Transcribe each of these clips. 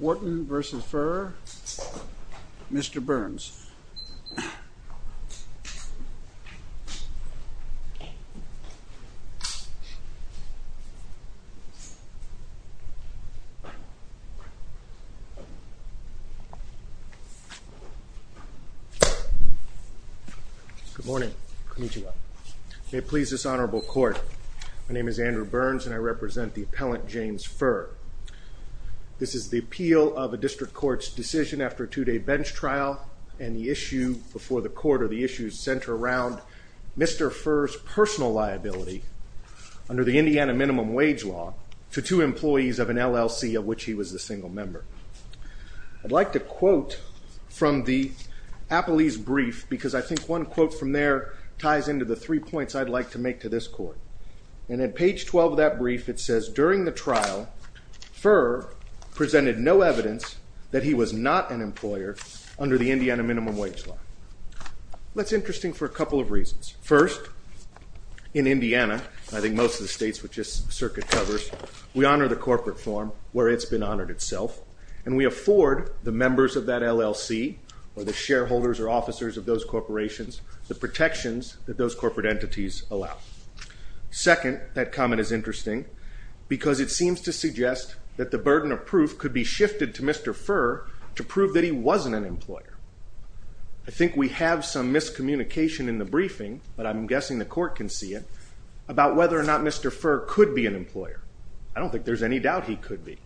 Wharton v. Furrer, Mr. Burns Good morning. Konnichiwa. May it please this Honorable Court, my name is Andrew Burns and I represent the appellant James Furrer. This is the appeal of a district court's decision after a two-day bench trial and the issue before the court or the issues center around Mr. Furrer's personal liability under the Indiana Minimum Wage Law to two employees of an LLC of which he was a single member. I'd like to quote from the appellee's brief because I think one quote from there ties into the three points I'd like to make to this court. And at page 12 of that brief it says, During the trial, Furrer presented no evidence that he was not an employer under the Indiana Minimum Wage Law. That's interesting for a couple of reasons. First, in Indiana, I think most of the states with just circuit covers, we honor the corporate form where it's been honored itself and we afford the members of that LLC or the shareholders or officers of those corporations the protections that those corporate entities allow. Second, that comment is interesting because it seems to suggest that the burden of proof could be shifted to Mr. Furrer to prove that he wasn't an employer. I think we have some miscommunication in the briefing, but I'm guessing the court can see it, about whether or not Mr. Furrer could be an employer. I don't think there's any doubt he could be.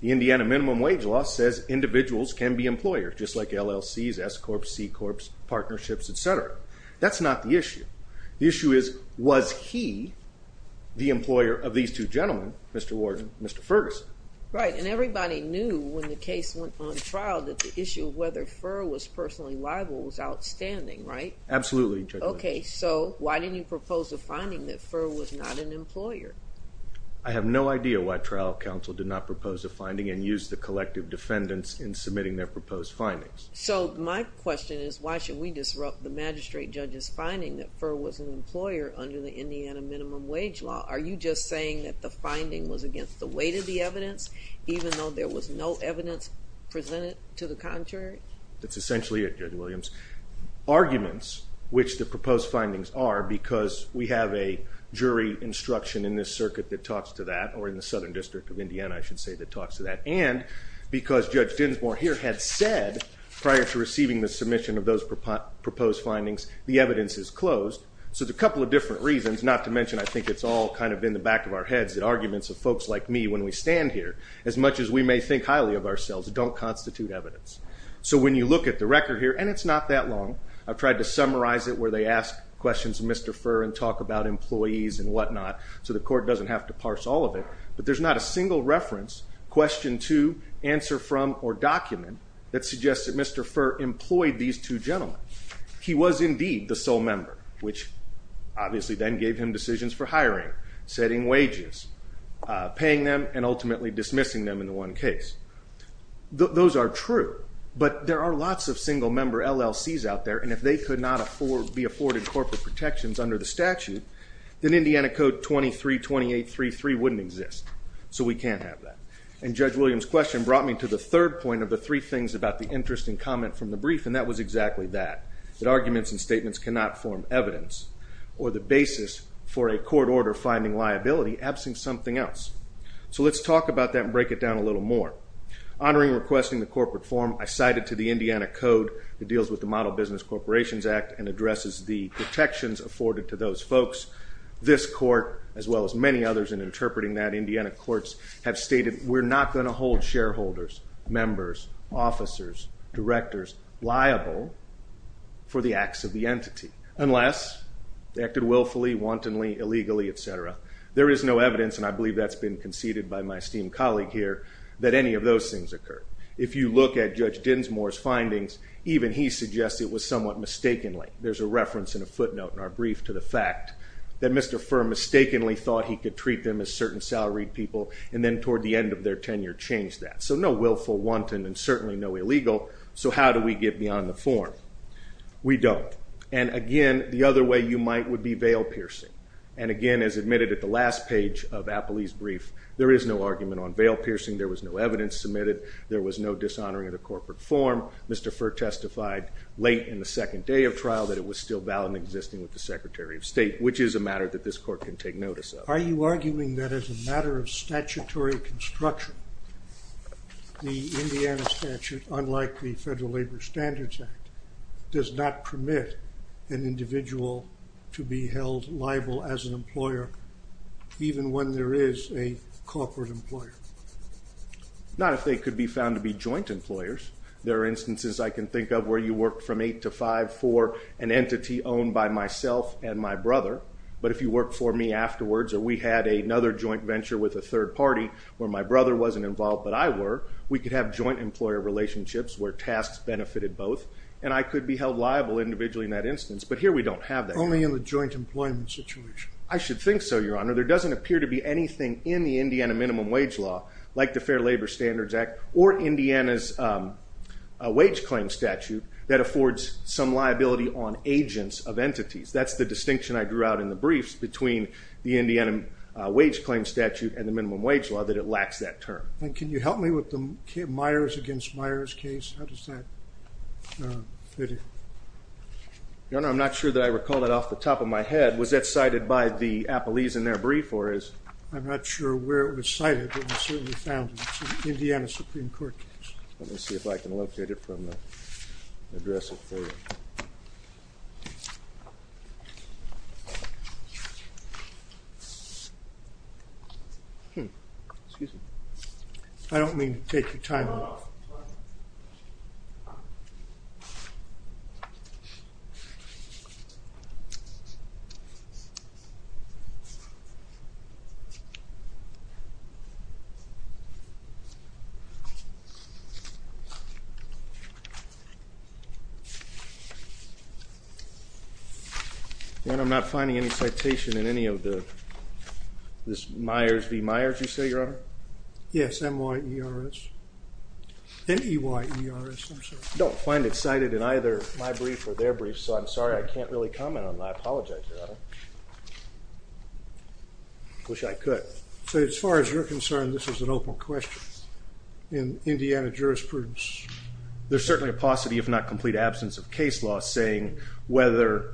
The Indiana Minimum Wage Law says individuals can be employers, just like LLCs, S-corps, C-corps, partnerships, et cetera. That's not the issue. The issue is, was he the employer of these two gentlemen, Mr. Warden and Mr. Ferguson? Right, and everybody knew when the case went on trial that the issue of whether Furrer was personally liable was outstanding, right? Absolutely, Judge Williams. Okay, so why didn't you propose a finding that Furrer was not an employer? I have no idea why trial counsel did not propose a finding and used the collective defendants in submitting their proposed findings. So my question is, why should we disrupt the magistrate judge's finding that Furrer was an employer under the Indiana Minimum Wage Law? Are you just saying that the finding was against the weight of the evidence, even though there was no evidence presented to the contrary? That's essentially it, Judge Williams. Arguments, which the proposed findings are, because we have a jury instruction in this circuit that talks to that, or in the Southern District of Indiana, I should say, that talks to that, and because Judge Dinsmore here had said, prior to receiving the submission of those proposed findings, the evidence is closed. So there's a couple of different reasons, not to mention I think it's all kind of in the back of our heads that arguments of folks like me, when we stand here, as much as we may think highly of ourselves, don't constitute evidence. So when you look at the record here, and it's not that long, I've tried to summarize it where they ask questions of Mr. Furrer and talk about employees and whatnot, so the court doesn't have to parse all of it, but there's not a single reference, question 2, answer from, or document, that suggests that Mr. Furrer employed these two gentlemen. He was indeed the sole member, which obviously then gave him decisions for hiring, setting wages, paying them, and ultimately dismissing them in the one case. Those are true, but there are lots of single-member LLCs out there, and if they could not be afforded corporate protections under the statute, then Indiana Code 232833 wouldn't exist. So we can't have that. And Judge Williams' question brought me to the third point of the three things about the interest and comment from the brief, and that was exactly that, that arguments and statements cannot form evidence or the basis for a court order finding liability absent something else. So let's talk about that and break it down a little more. Honoring requesting the corporate form I cited to the Indiana Code that deals with the Model Business Corporations Act and addresses the protections afforded to those folks, this court, as well as many others in interpreting that, Indiana courts have stated we're not going to hold shareholders, members, officers, directors liable for the acts of the entity unless they acted willfully, wantonly, illegally, et cetera. There is no evidence, and I believe that's been conceded by my esteemed colleague here, that any of those things occurred. If you look at Judge Dinsmore's findings, even he suggests it was somewhat mistakenly. There's a reference in a footnote in our brief to the fact that Mr. Firm mistakenly thought he could treat them as certain salaried people and then toward the end of their tenure changed that. So no willful, wanton, and certainly no illegal. So how do we get beyond the form? We don't. And again, the other way you might would be veil-piercing. And again, as admitted at the last page of Appley's brief, there is no argument on veil-piercing. There was no evidence submitted. There was no dishonoring of the corporate form. Mr. Firm testified late in the second day of trial that it was still valid and existing with the Secretary of State, which is a matter that this court can take notice of. Are you arguing that as a matter of statutory construction, the Indiana statute, unlike the Federal Labor Standards Act, does not permit an individual to be held liable as an employer even when there is a corporate employer? Not if they could be found to be joint employers. There are instances I can think of where you work from 8 to 5 for an entity owned by myself and my brother. But if you work for me afterwards, or we had another joint venture with a third party where my brother wasn't involved but I were, we could have joint employer relationships where tasks benefited both. And I could be held liable individually in that instance. But here we don't have that. Only in the joint employment situation. I should think so, Your Honor. There doesn't appear to be anything in the Indiana minimum wage law, like the Fair Labor Standards Act, or Indiana's wage claim statute that affords some liability on agents of entities. That's the distinction I drew out in the briefs between the Indiana wage claim statute and the minimum wage law, that it lacks that term. And can you help me with the Myers v. Myers case? How does that fit in? Your Honor, I'm not sure that I recall that off the top of my head. Was that cited by the Appellees in their brief? I'm not sure where it was cited, but it was certainly found in the Indiana Supreme Court case. Let me see if I can locate it from the address up there. I don't mean to take your time. Your Honor, I'm not finding any citation in any of the Myers v. Myers, you say, Your Honor? Yes, M-Y-E-R-S. M-E-Y-E-R-S, I'm sorry. I don't find it cited in either my brief or their brief, so I'm sorry, I can't really comment on that. I apologize, Your Honor. I wish I could. As far as you're concerned, this is an open question. In Indiana jurisdiction, There's certainly a paucity, if not complete absence of case law, saying whether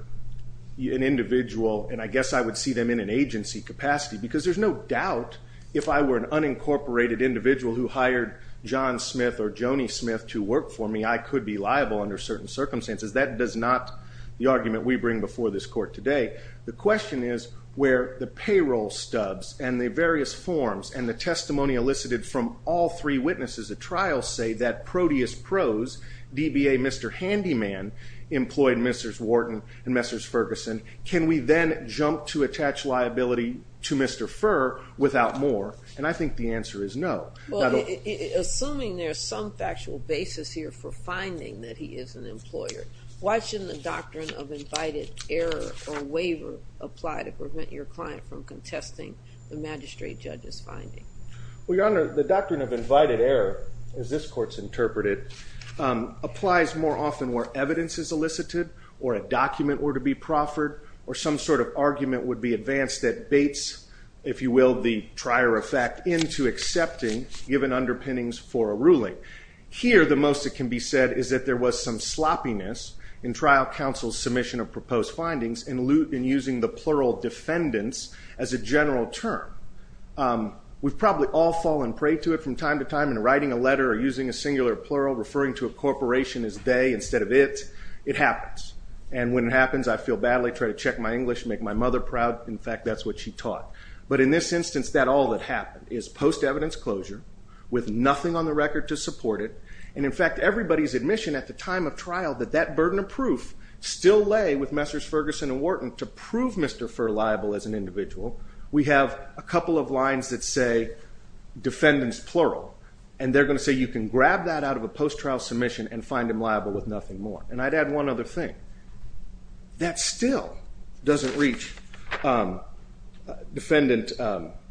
an individual, and I guess I would see them in an agency capacity, because there's no doubt if I were an unincorporated individual who hired John Smith or Joni Smith to work for me, I could be liable under certain circumstances. That is not the argument we bring before this Court today. The question is where the payroll stubs and the various forms and the testimony elicited from all three witnesses at trial say that Proteus Pros, DBA Mr. Handyman, employed Mr. Wharton and Mr. Ferguson. Can we then jump to attach liability to Mr. Furr without more? And I think the answer is no. Assuming there's some factual basis here for finding that he is an employer, why shouldn't the doctrine of invited error or waiver apply to prevent your client from contesting the magistrate judge's finding? Well, Your Honor, the doctrine of invited error, as this Court's interpreted, applies more often where evidence is elicited or a document were to be proffered or some sort of argument would be advanced that baits, if you will, the trier effect into accepting given underpinnings for a ruling. Here, the most that can be said is that there was some sloppiness in trial counsel's submission of proposed findings in using the plural defendants as a general term. We've probably all fallen prey to it from time to time in writing a letter or using a singular plural, referring to a corporation as they instead of it. It happens, and when it happens, I feel badly, try to check my English, make my mother proud. In fact, that's what she taught. But in this instance, all that happened is post-evidence closure with nothing on the record to support it. And in fact, everybody's admission at the time of trial that that burden of proof still lay with Messrs. Ferguson and Wharton to prove Mr. Furr liable as an individual. We have a couple of lines that say defendants plural, and they're going to say you can grab that out of a post-trial submission and find him liable with nothing more. And I'd add one other thing. That still doesn't reach defendant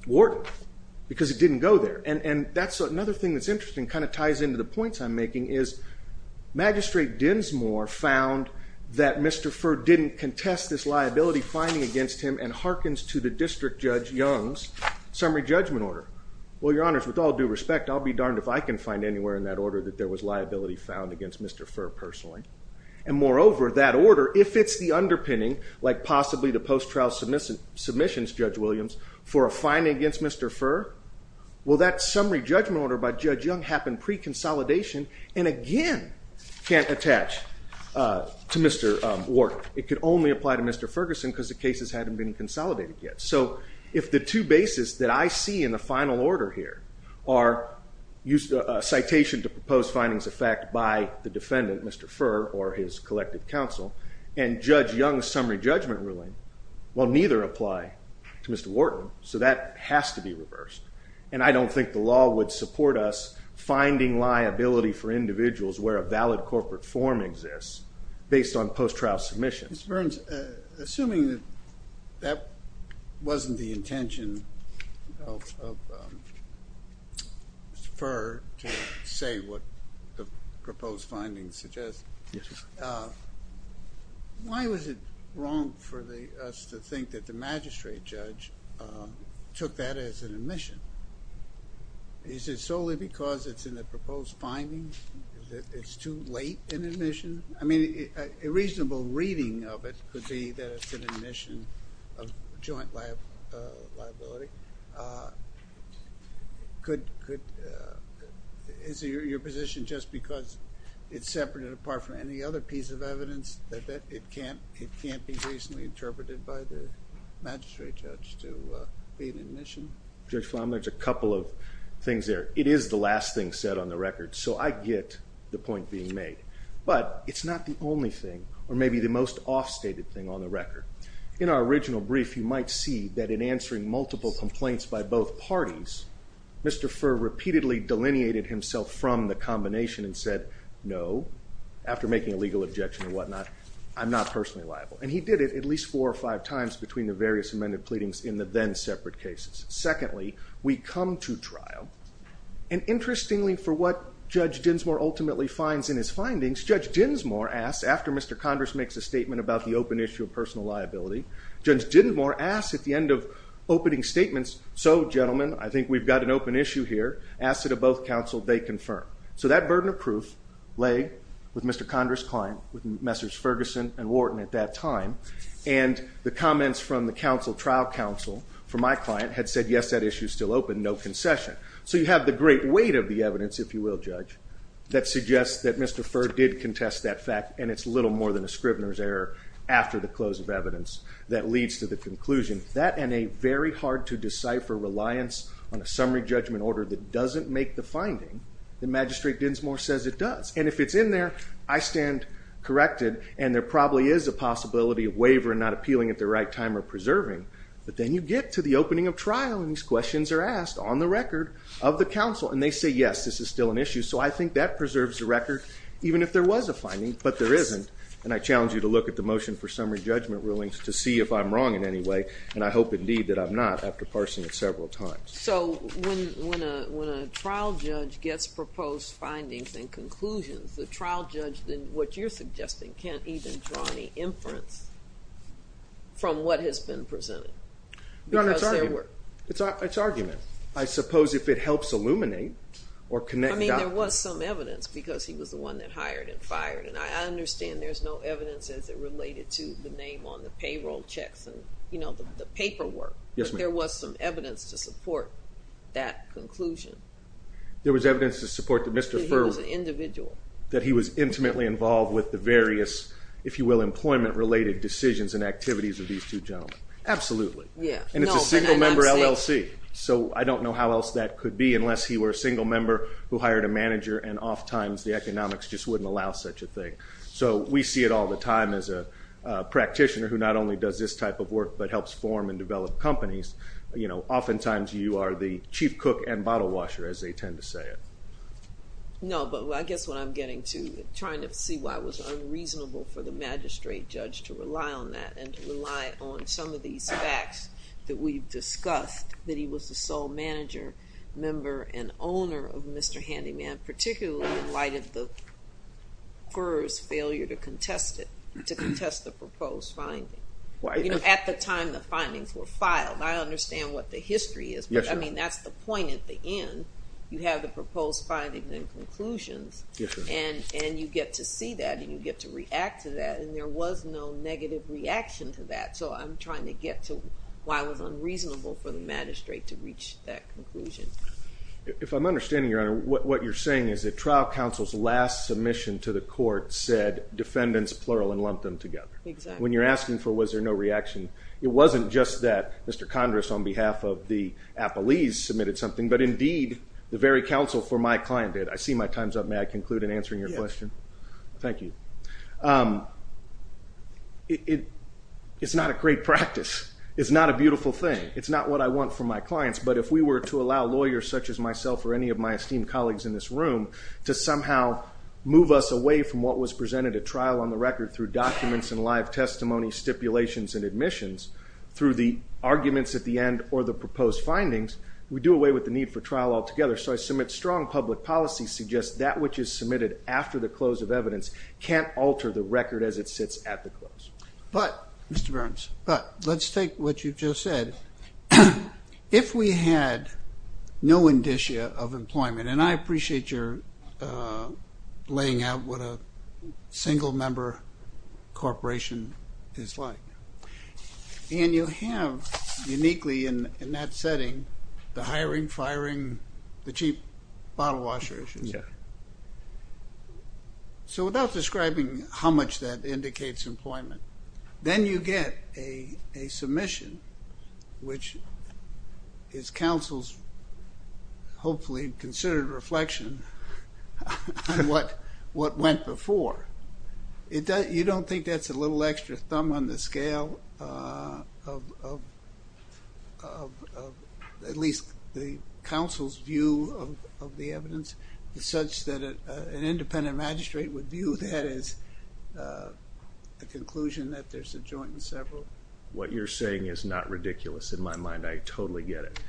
Wharton because it didn't go there. And that's another thing that's interesting, kind of ties into the points I'm making, is Magistrate Dinsmore found that Mr. Furr didn't contest this liability finding against him and hearkens to the District Judge Young's summary judgment order. Well, Your Honors, with all due respect, I'll be darned if I can find anywhere in that order that there was liability found against Mr. Furr personally. And moreover, that order, if it's the underpinning, like possibly the post-trial submissions, Judge Williams, for a finding against Mr. Furr, will that summary judgment order by Judge Young happen pre-consolidation and again can't attach to Mr. Wharton? It could only apply to Mr. Ferguson because the cases hadn't been consolidated yet. So if the two bases that I see in the final order here are citation to proposed findings of fact by the defendant, Mr. Furr, or his collective counsel, and Judge Young's summary judgment ruling, well, neither apply to Mr. Wharton. So that has to be reversed. And I don't think the law would support us finding liability for individuals where a valid corporate form exists based on post-trial submissions. Mr. Burns, assuming that that wasn't the intention of Mr. Furr to say what the proposed findings suggest, why was it wrong for us to think that the magistrate judge took that as an admission? Is it solely because it's in the proposed findings that it's too late an admission? A reasonable reading of it could be that it's an admission of joint liability. Is it your position just because it's separated apart from any other piece of evidence that it can't be reasonably interpreted by the magistrate judge to be an admission? Judge Flanagan, there's a couple of things there. It is the last thing said on the record, so I get the point being made. But it's not the only thing, or maybe the most off-stated thing on the record. In our original brief, you might see that in answering multiple complaints by both parties, Mr. Furr repeatedly delineated himself from the combination and said, no, after making a legal objection and whatnot, I'm not personally liable. And he did it at least four or five times between the various amended pleadings in the then separate cases. Secondly, we come to trial, and interestingly for what Judge Dinsmore ultimately finds in his findings, Judge Dinsmore asks, after Mr. Condris makes a statement about the open issue of personal liability, Judge Dinsmore asks at the end of opening statements, so gentlemen, I think we've got an open issue here, asks it of both counsel, they confirm. So that burden of proof lay with Mr. Condris' client, with Messrs. Ferguson and Wharton at that time. And the comments from the trial counsel for my client had said, yes, that issue's still open, no concession. So you have the great weight of the evidence, if you will, Judge, that suggests that Mr. Furr did contest that fact, and it's little more than a scrivener's error after the close of evidence that leads to the conclusion. That and a very hard to decipher reliance on a summary judgment order that doesn't make the finding that Magistrate Dinsmore says it does. And if it's in there, I stand corrected, and there probably is a possibility of waiver But then you get to the opening of trial, and these questions are asked on the record of the counsel, and they say, yes, this is still an issue. So I think that preserves the record, even if there was a finding, but there isn't. And I challenge you to look at the motion for summary judgment rulings to see if I'm wrong in any way, and I hope indeed that I'm not, after parsing it several times. So when a trial judge gets proposed findings and conclusions, the trial judge then, what you're suggesting, can't even draw any inference from what has been presented. It's argument. I suppose if it helps illuminate or connect... I mean, there was some evidence, because he was the one that hired and fired, and I understand there's no evidence as it related to the name on the payroll checks and the paperwork. Yes, ma'am. But there was some evidence to support that conclusion. There was evidence to support that Mr. Furman... That he was an individual. That he was intimately involved with the various, if you will, employment-related decisions and activities of these two gentlemen. Absolutely. And it's a single-member LLC, so I don't know how else that could be unless he were a single member who hired a manager, and oftentimes the economics just wouldn't allow such a thing. So we see it all the time as a practitioner who not only does this type of work, but helps form and develop companies. Oftentimes you are the chief cook and bottle washer, as they tend to say it. No, but I guess what I'm getting to, trying to see why it was unreasonable for the magistrate judge to rely on that and to rely on some of these facts that we've discussed, that he was the sole manager, member, and owner of Mr. Handyman, particularly in light of the FERS failure to contest it, to contest the proposed finding. At the time the findings were filed. I understand what the history is, but that's the point at the end. You have the proposed findings and conclusions, and you get to see that and you get to react to that, and there was no negative reaction to that. So I'm trying to get to why it was unreasonable for the magistrate to reach that conclusion. If I'm understanding, Your Honor, what you're saying is that trial counsel's last submission to the court said defendants, plural, and lumped them together. Exactly. When you're asking for was there no reaction, it wasn't just that Mr. Condris, on behalf of the appellees, submitted something, but indeed the very counsel for my client did. I see my time's up. May I conclude in answering your question? Thank you. It's not a great practice. It's not a beautiful thing. It's not what I want for my clients, but if we were to allow lawyers such as myself or any of my esteemed colleagues in this room to somehow move us away from what was presented at trial on the record through documents and live testimony, stipulations, and admissions, through the arguments at the end or the proposed findings, we'd do away with the need for trial altogether. So I submit strong public policy suggests that which is submitted after the close of evidence can't alter the record as it sits at the close. But, Mr. Burns, let's take what you just said. If we had no indicia of employment, and I appreciate your laying out what a single-member corporation is like, and you have uniquely in that setting the hiring, firing, the cheap bottle washer issues, so without describing how much that indicates employment, then you get a submission which is counsel's hopefully considered reflection on what went before. You don't think that's a little extra thumb on the scale of at least the counsel's view of the evidence such that an independent magistrate would view that as a conclusion that there's a joint in several? What you're saying is not ridiculous in my mind. I totally get it.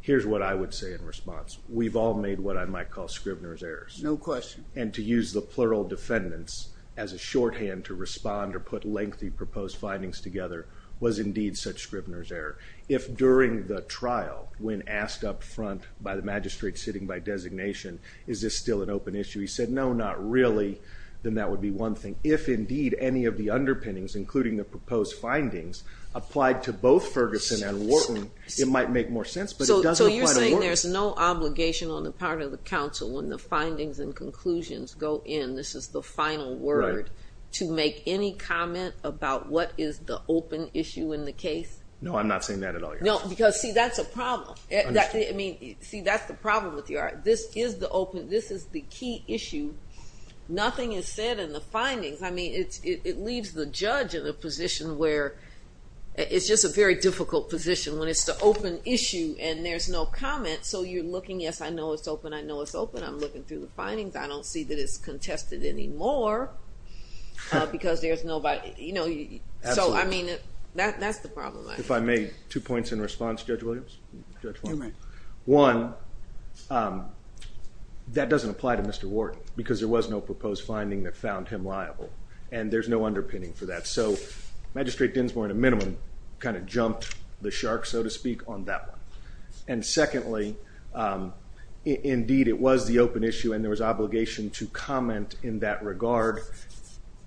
Here's what I would say in response. We've all made what I might call Scribner's errors. No question. And to use the plural defendants as a shorthand to respond or put lengthy proposed findings together was indeed such Scribner's error. If during the trial, when asked up front by the magistrate sitting by designation, is this still an open issue? He said, no, not really. Then that would be one thing. If indeed any of the underpinnings, including the proposed findings, applied to both Ferguson and Wharton, it might make more sense, but it doesn't apply to Wharton. So you're saying there's no obligation on the part of the counsel when the findings and conclusions go in, this is the final word, to make any comment about what is the open issue in the case? No, I'm not saying that at all, Your Honor. No, because, see, that's a problem. See, that's the problem with your argument. This is the key issue. Nothing is said in the findings. I mean, it leaves the judge in a position where it's just a very difficult position when it's the open issue and there's no comment. So you're looking, yes, I know it's open. I know it's open. I'm looking through the findings. I don't see that it's contested anymore. Because there's nobody, you know, so, I mean, that's the problem. If I may, two points in response, Judge Williams. You may. One, that doesn't apply to Mr. Wharton, because there was no proposed finding that found him liable, and there's no underpinning for that. So Magistrate Dinsmore, in a minimum, kind of jumped the shark, so to speak, on that one. And secondly, indeed, it was the open issue and there was obligation to comment in that regard.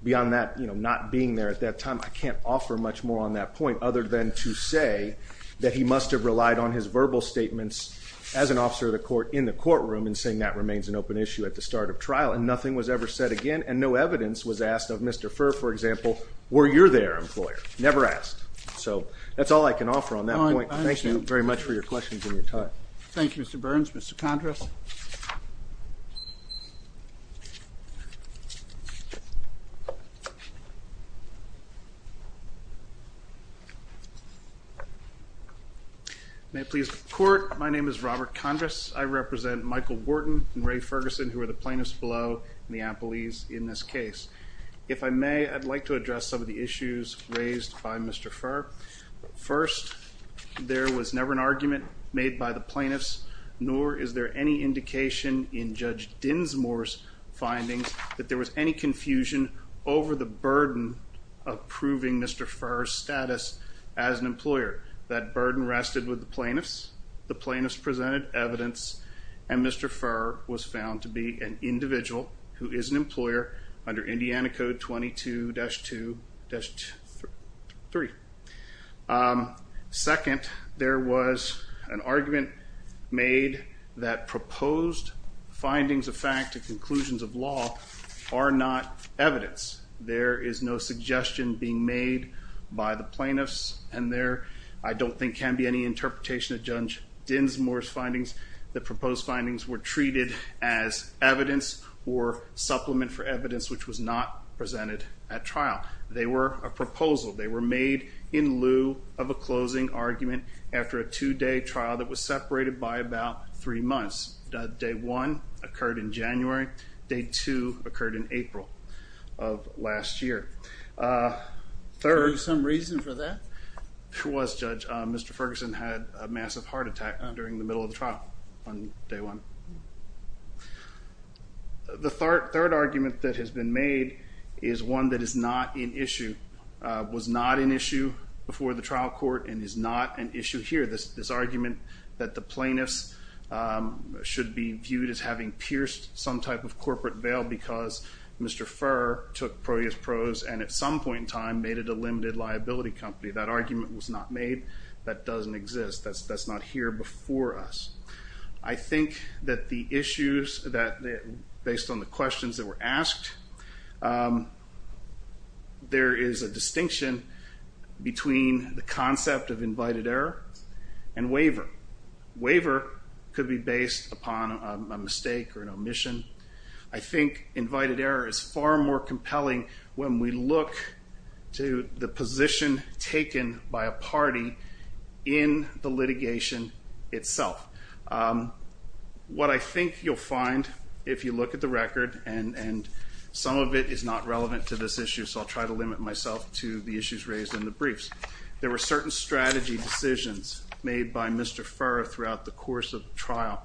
Beyond that, you know, not being there at that time, I can't offer much more on that point other than to say that he must have relied on his verbal statements as an officer of the court in the courtroom and saying that remains an open issue at the start of trial and nothing was ever said again, and no evidence was asked of Mr. Furr, for example, were you their employer? Never asked. So that's all I can offer on that point. Thank you very much for your questions and your time. Thank you, Mr. Burns. Thank you very much, Mr. Condress. May it please the Court, my name is Robert Condress. I represent Michael Wharton and Ray Ferguson, who are the plaintiffs below and the appellees in this case. If I may, I'd like to address some of the issues raised by Mr. Furr. First, there was never an argument made by the plaintiffs, nor is there any indication in Judge Dinsmore's findings that there was any confusion over the burden of proving Mr. Furr's status as an employer. That burden rested with the plaintiffs, the plaintiffs presented evidence, and Mr. Furr was found to be an individual who is an employer under Indiana Code 22-2-3. Second, there was an argument made that proposed findings of fact and conclusions of law are not evidence. There is no suggestion being made by the plaintiffs, and there I don't think can be any interpretation of Judge Dinsmore's findings. The proposed findings were treated as evidence or supplement for evidence which was not presented at trial. They were a proposal. They were made in lieu of a closing argument after a two-day trial that was separated by about three months. Day one occurred in January. Day two occurred in April of last year. Is there some reason for that? There was, Judge. Mr. Ferguson had a massive heart attack during the middle of the trial on day one. The third argument that has been made is one that is not an issue, was not an issue before the trial court and is not an issue here, this argument that the plaintiffs should be viewed as having pierced some type of corporate veil because Mr. Furr took pro just pros and at some point in time made it a limited liability company. That argument was not made. That doesn't exist. That's not here before us. I think that the issues that, based on the questions that were asked, there is a distinction between the concept of invited error and waiver. Waiver could be based upon a mistake or an omission. I think invited error is far more compelling when we look to the position taken by a party in the litigation itself. What I think you'll find if you look at the record, and some of it is not relevant to this issue, so I'll try to limit myself to the issues raised in the briefs, there were certain strategy decisions made by Mr. Furr throughout the course of the trial.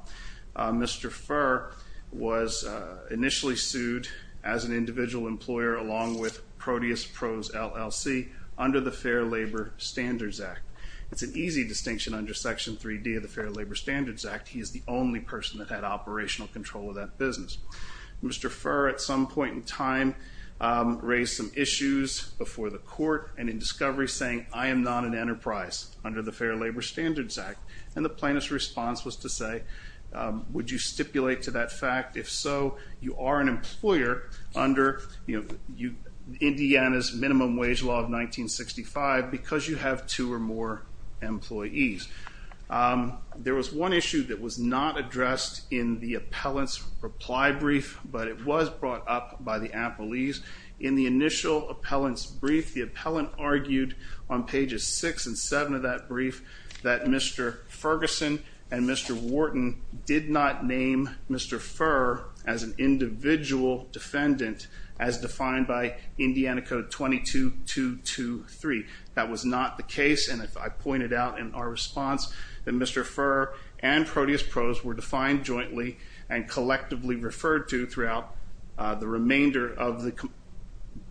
Mr. Furr was initially sued as an individual employer along with Proteus Pros LLC under the Fair Labor Standards Act. It's an easy distinction under Section 3D of the Fair Labor Standards Act. He is the only person that had operational control of that business. Mr. Furr at some point in time raised some issues before the court and in discovery saying, I am not an enterprise under the Fair Labor Standards Act, and the plaintiff's response was to say, would you stipulate to that fact? If so, you are an employer under Indiana's minimum wage law of 1965 because you have two or more employees. There was one issue that was not addressed in the appellant's reply brief, but it was brought up by the appellees. In the initial appellant's brief, the appellant argued on pages six and seven of that brief that Mr. Ferguson and Mr. Wharton did not name Mr. Furr as an individual defendant as defined by Indiana Code 22223. That was not the case, and I pointed out in our response that Mr. Furr and Proteus Pros were defined jointly and collectively referred to throughout the remainder of the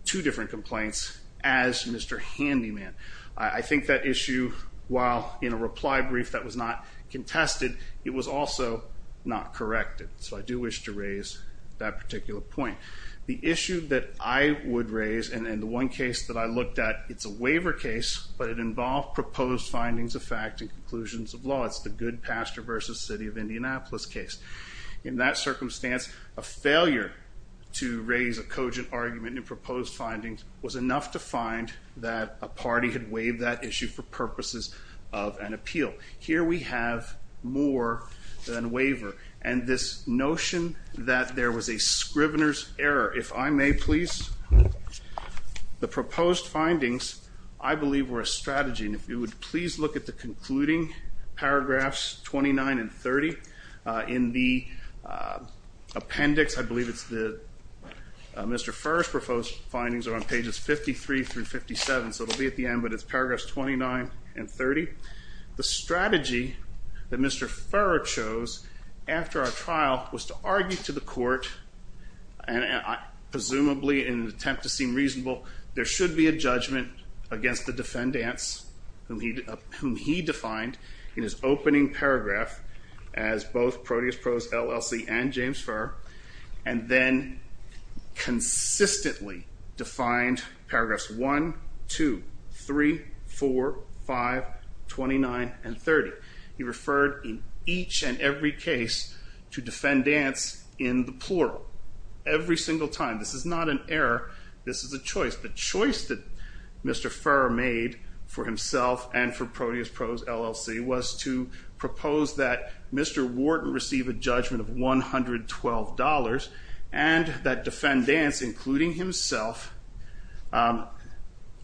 two different complaints as Mr. Handyman. I think that issue, while in a reply brief that was not contested, it was also not corrected. So I do wish to raise that particular point. The issue that I would raise, and the one case that I looked at, it's a waiver case, but it involved proposed findings of fact and conclusions of law. It's the Good Pastor v. City of Indianapolis case. In that circumstance, a failure to raise a cogent argument in proposed findings was enough to find that a party had waived that issue for purposes of an appeal. Here we have more than a waiver, and this notion that there was a scrivener's error, if I may please. The proposed findings, I believe, were a strategy, and if you would please look at the concluding paragraphs 29 and 30 in the appendix, I believe it's the Mr. Furrow's proposed findings are on pages 53 through 57, so it will be at the end, but it's paragraphs 29 and 30. The strategy that Mr. Furrow chose after our trial was to argue to the court, presumably in an attempt to seem reasonable, there should be a judgment against the defendants, whom he defined in his opening paragraph as both Proteus Prose LLC and James Furrow, and then consistently defined paragraphs 1, 2, 3, 4, 5, 29, and 30. He referred in each and every case to defendants in the plural. Every single time. This is not an error, this is a choice. The choice that Mr. Furrow made for himself and for Proteus Prose LLC was to propose that Mr. Wharton receive a judgment of $112 and that defendants, including himself,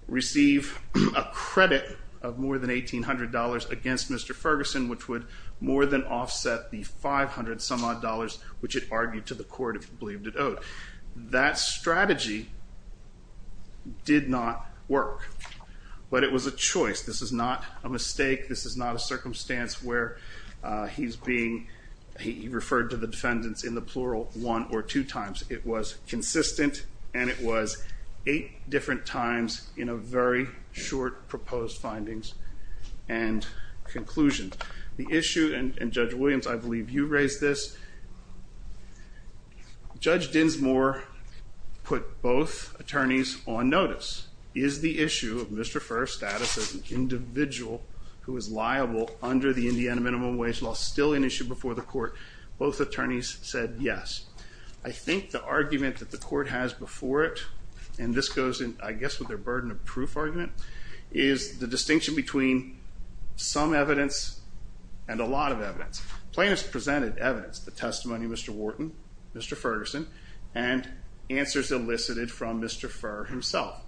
receive a credit of more than $1,800 against Mr. Ferguson, which would more than offset the $500-some-odd, which it argued to the court if it believed it owed. That strategy did not work, but it was a choice. This is not a mistake, this is not a circumstance where he's being, he referred to the defendants in the plural one or two times. It was consistent, and it was eight different times in a very short proposed findings and conclusion. The issue, and Judge Williams, I believe you raised this, Judge Dinsmore put both attorneys on notice. Is the issue of Mr. Furrow's status as an individual who is liable under the Indiana Minimum Wage Law still an issue before the court? Both attorneys said yes. I think the argument that the court has before it, and this goes, I guess, with their burden of proof argument, is the distinction between some evidence and a lot of evidence. Plaintiffs presented evidence, the testimony of Mr. Wharton, Mr. Ferguson, and answers elicited from Mr. Furrow himself.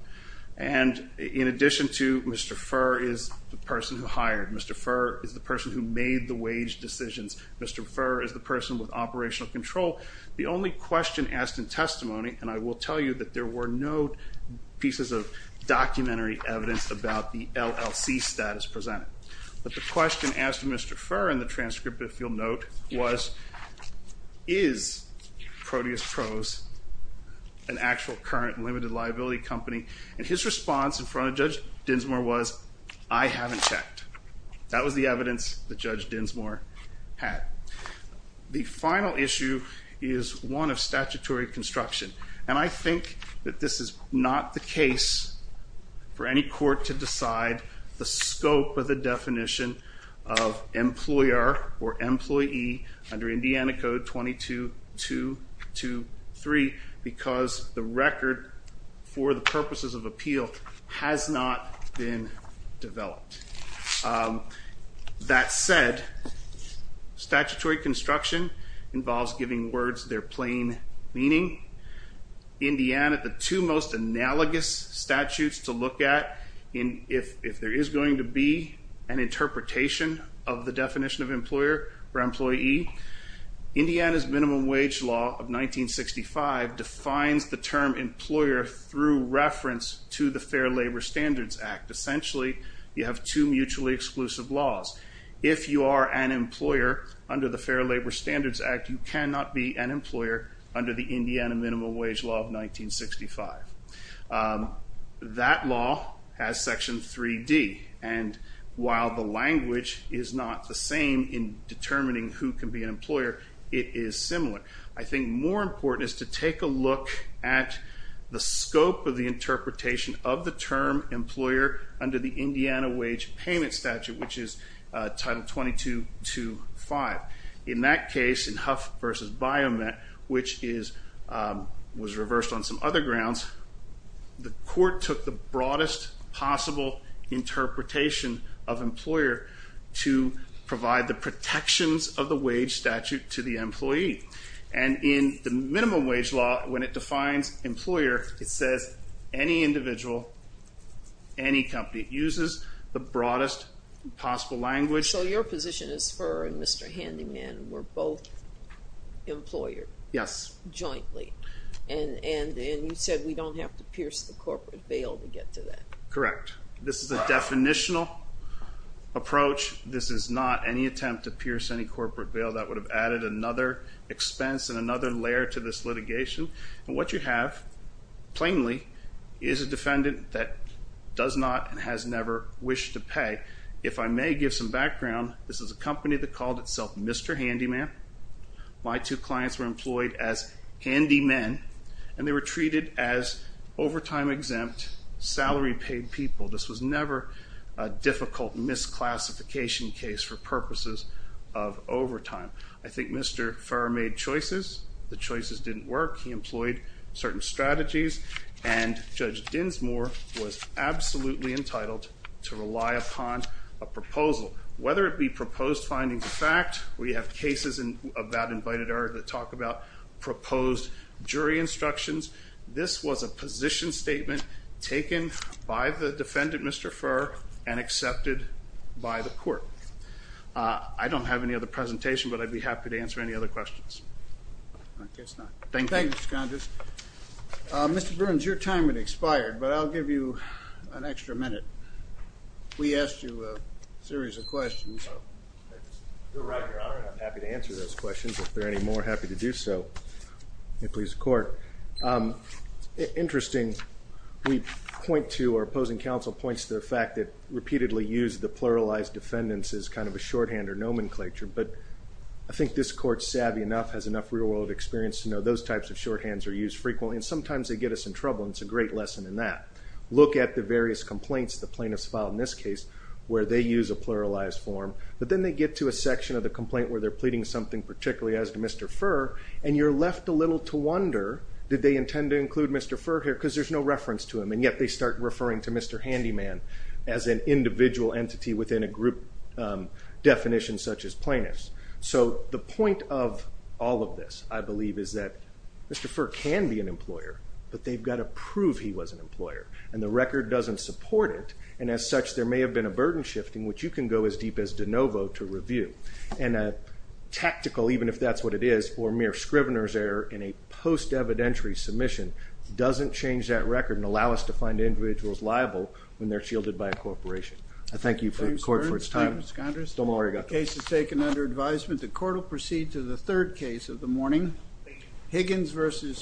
And in addition to Mr. Furrow is the person who hired, Mr. Furrow is the person who made the wage decisions, Mr. Furrow is the person with operational control. The only question asked in testimony, and I will tell you that there were no pieces of documentary evidence about the LLC status presented. But the question asked of Mr. Furrow in the transcript, if you'll note, was is Proteus Pros an actual current limited liability company? And his response in front of Judge Dinsmore was, I haven't checked. That was the evidence that Judge Dinsmore had. The final issue is one of statutory construction. And I think that this is not the case for any court to decide the scope of the definition of employer or employee under Indiana Code 22223, because the record for the purposes of appeal has not been developed. That said, statutory construction involves giving words their plain meaning. Indiana, the two most analogous statutes to look at if there is going to be an interpretation of the definition of employer or employee, Indiana's Minimum Wage Law of 1965 defines the term employer through reference to the Fair Labor Standards Act. Essentially, you have two mutually exclusive laws. If you are an employer under the Fair Labor Standards Act, you cannot be an employer under the Indiana Minimum Wage Law of 1965. That law has Section 3D, and while the language is not the same in determining who can be an employer, it is similar. I think more important is to take a look at the scope of the interpretation of the term employer under the Indiana Wage Payment Statute, which is Title 2225. In that case, in Huff v. Biomet, which was reversed on some other grounds, the court took the broadest possible interpretation of employer to provide the protections of the wage statute to the employee. In the Minimum Wage Law, when it defines employer, it says any individual, any company. It uses the broadest possible language. So your position is for Mr. Handyman, and we're both employers jointly. Yes. And you said we don't have to pierce the corporate veil to get to that. Correct. This is a definitional approach. This is not any attempt to pierce any corporate veil. That would have added another expense and another layer to this litigation. And what you have, plainly, is a defendant that does not and has never wished to pay. If I may give some background, this is a company that called itself Mr. Handyman. My two clients were employed as handymen, and they were treated as overtime-exempt, salary-paid people. This was never a difficult misclassification case for purposes of overtime. I think Mr. Ferrer made choices. The choices didn't work. He employed certain strategies, and Judge Dinsmore was absolutely entitled to rely upon a proposal. Whether it be proposed findings of fact, we have cases of that invited order that talk about proposed jury instructions, this was a position statement taken by the defendant, Mr. Ferrer, and accepted by the court. I don't have any other presentation, but I'd be happy to answer any other questions. I guess not. Thank you. Thank you, Mr. Condis. Mr. Burns, your time had expired, but I'll give you an extra minute. We asked you a series of questions. You're right, Your Honor, and I'm happy to answer those questions. If there are any more, I'm happy to do so. May it please the Court. Interesting, we point to, our opposing counsel points to the fact that repeatedly used the pluralized defendants is kind of a shorthand or nomenclature, but I think this Court's savvy enough, has enough real-world experience to know those types of shorthands are used frequently, and sometimes they get us in trouble, and it's a great lesson in that. Look at the various complaints the plaintiffs filed in this case where they use a pluralized form, but then they get to a section of the complaint where they're pleading something particularly as to Mr. Ferrer, and you're left a little to wonder, did they intend to include Mr. Ferrer here? Because there's no reference to him, and yet they start referring to Mr. Handyman as an individual entity within a group definition such as plaintiffs. So the point of all of this, I believe, is that Mr. Ferrer can be an employer, but they've got to prove he was an employer, and the record doesn't support it, and as such, there may have been a burden shifting, which you can go as deep as de novo to review. And a tactical, even if that's what it is, or mere scrivener's error in a post-evidentiary submission doesn't change that record and allow us to find individuals liable when they're shielded by a corporation. I thank you for your time. The case is taken under advisement. The Court will proceed to the third case of the morning. Higgins v. Sorensen.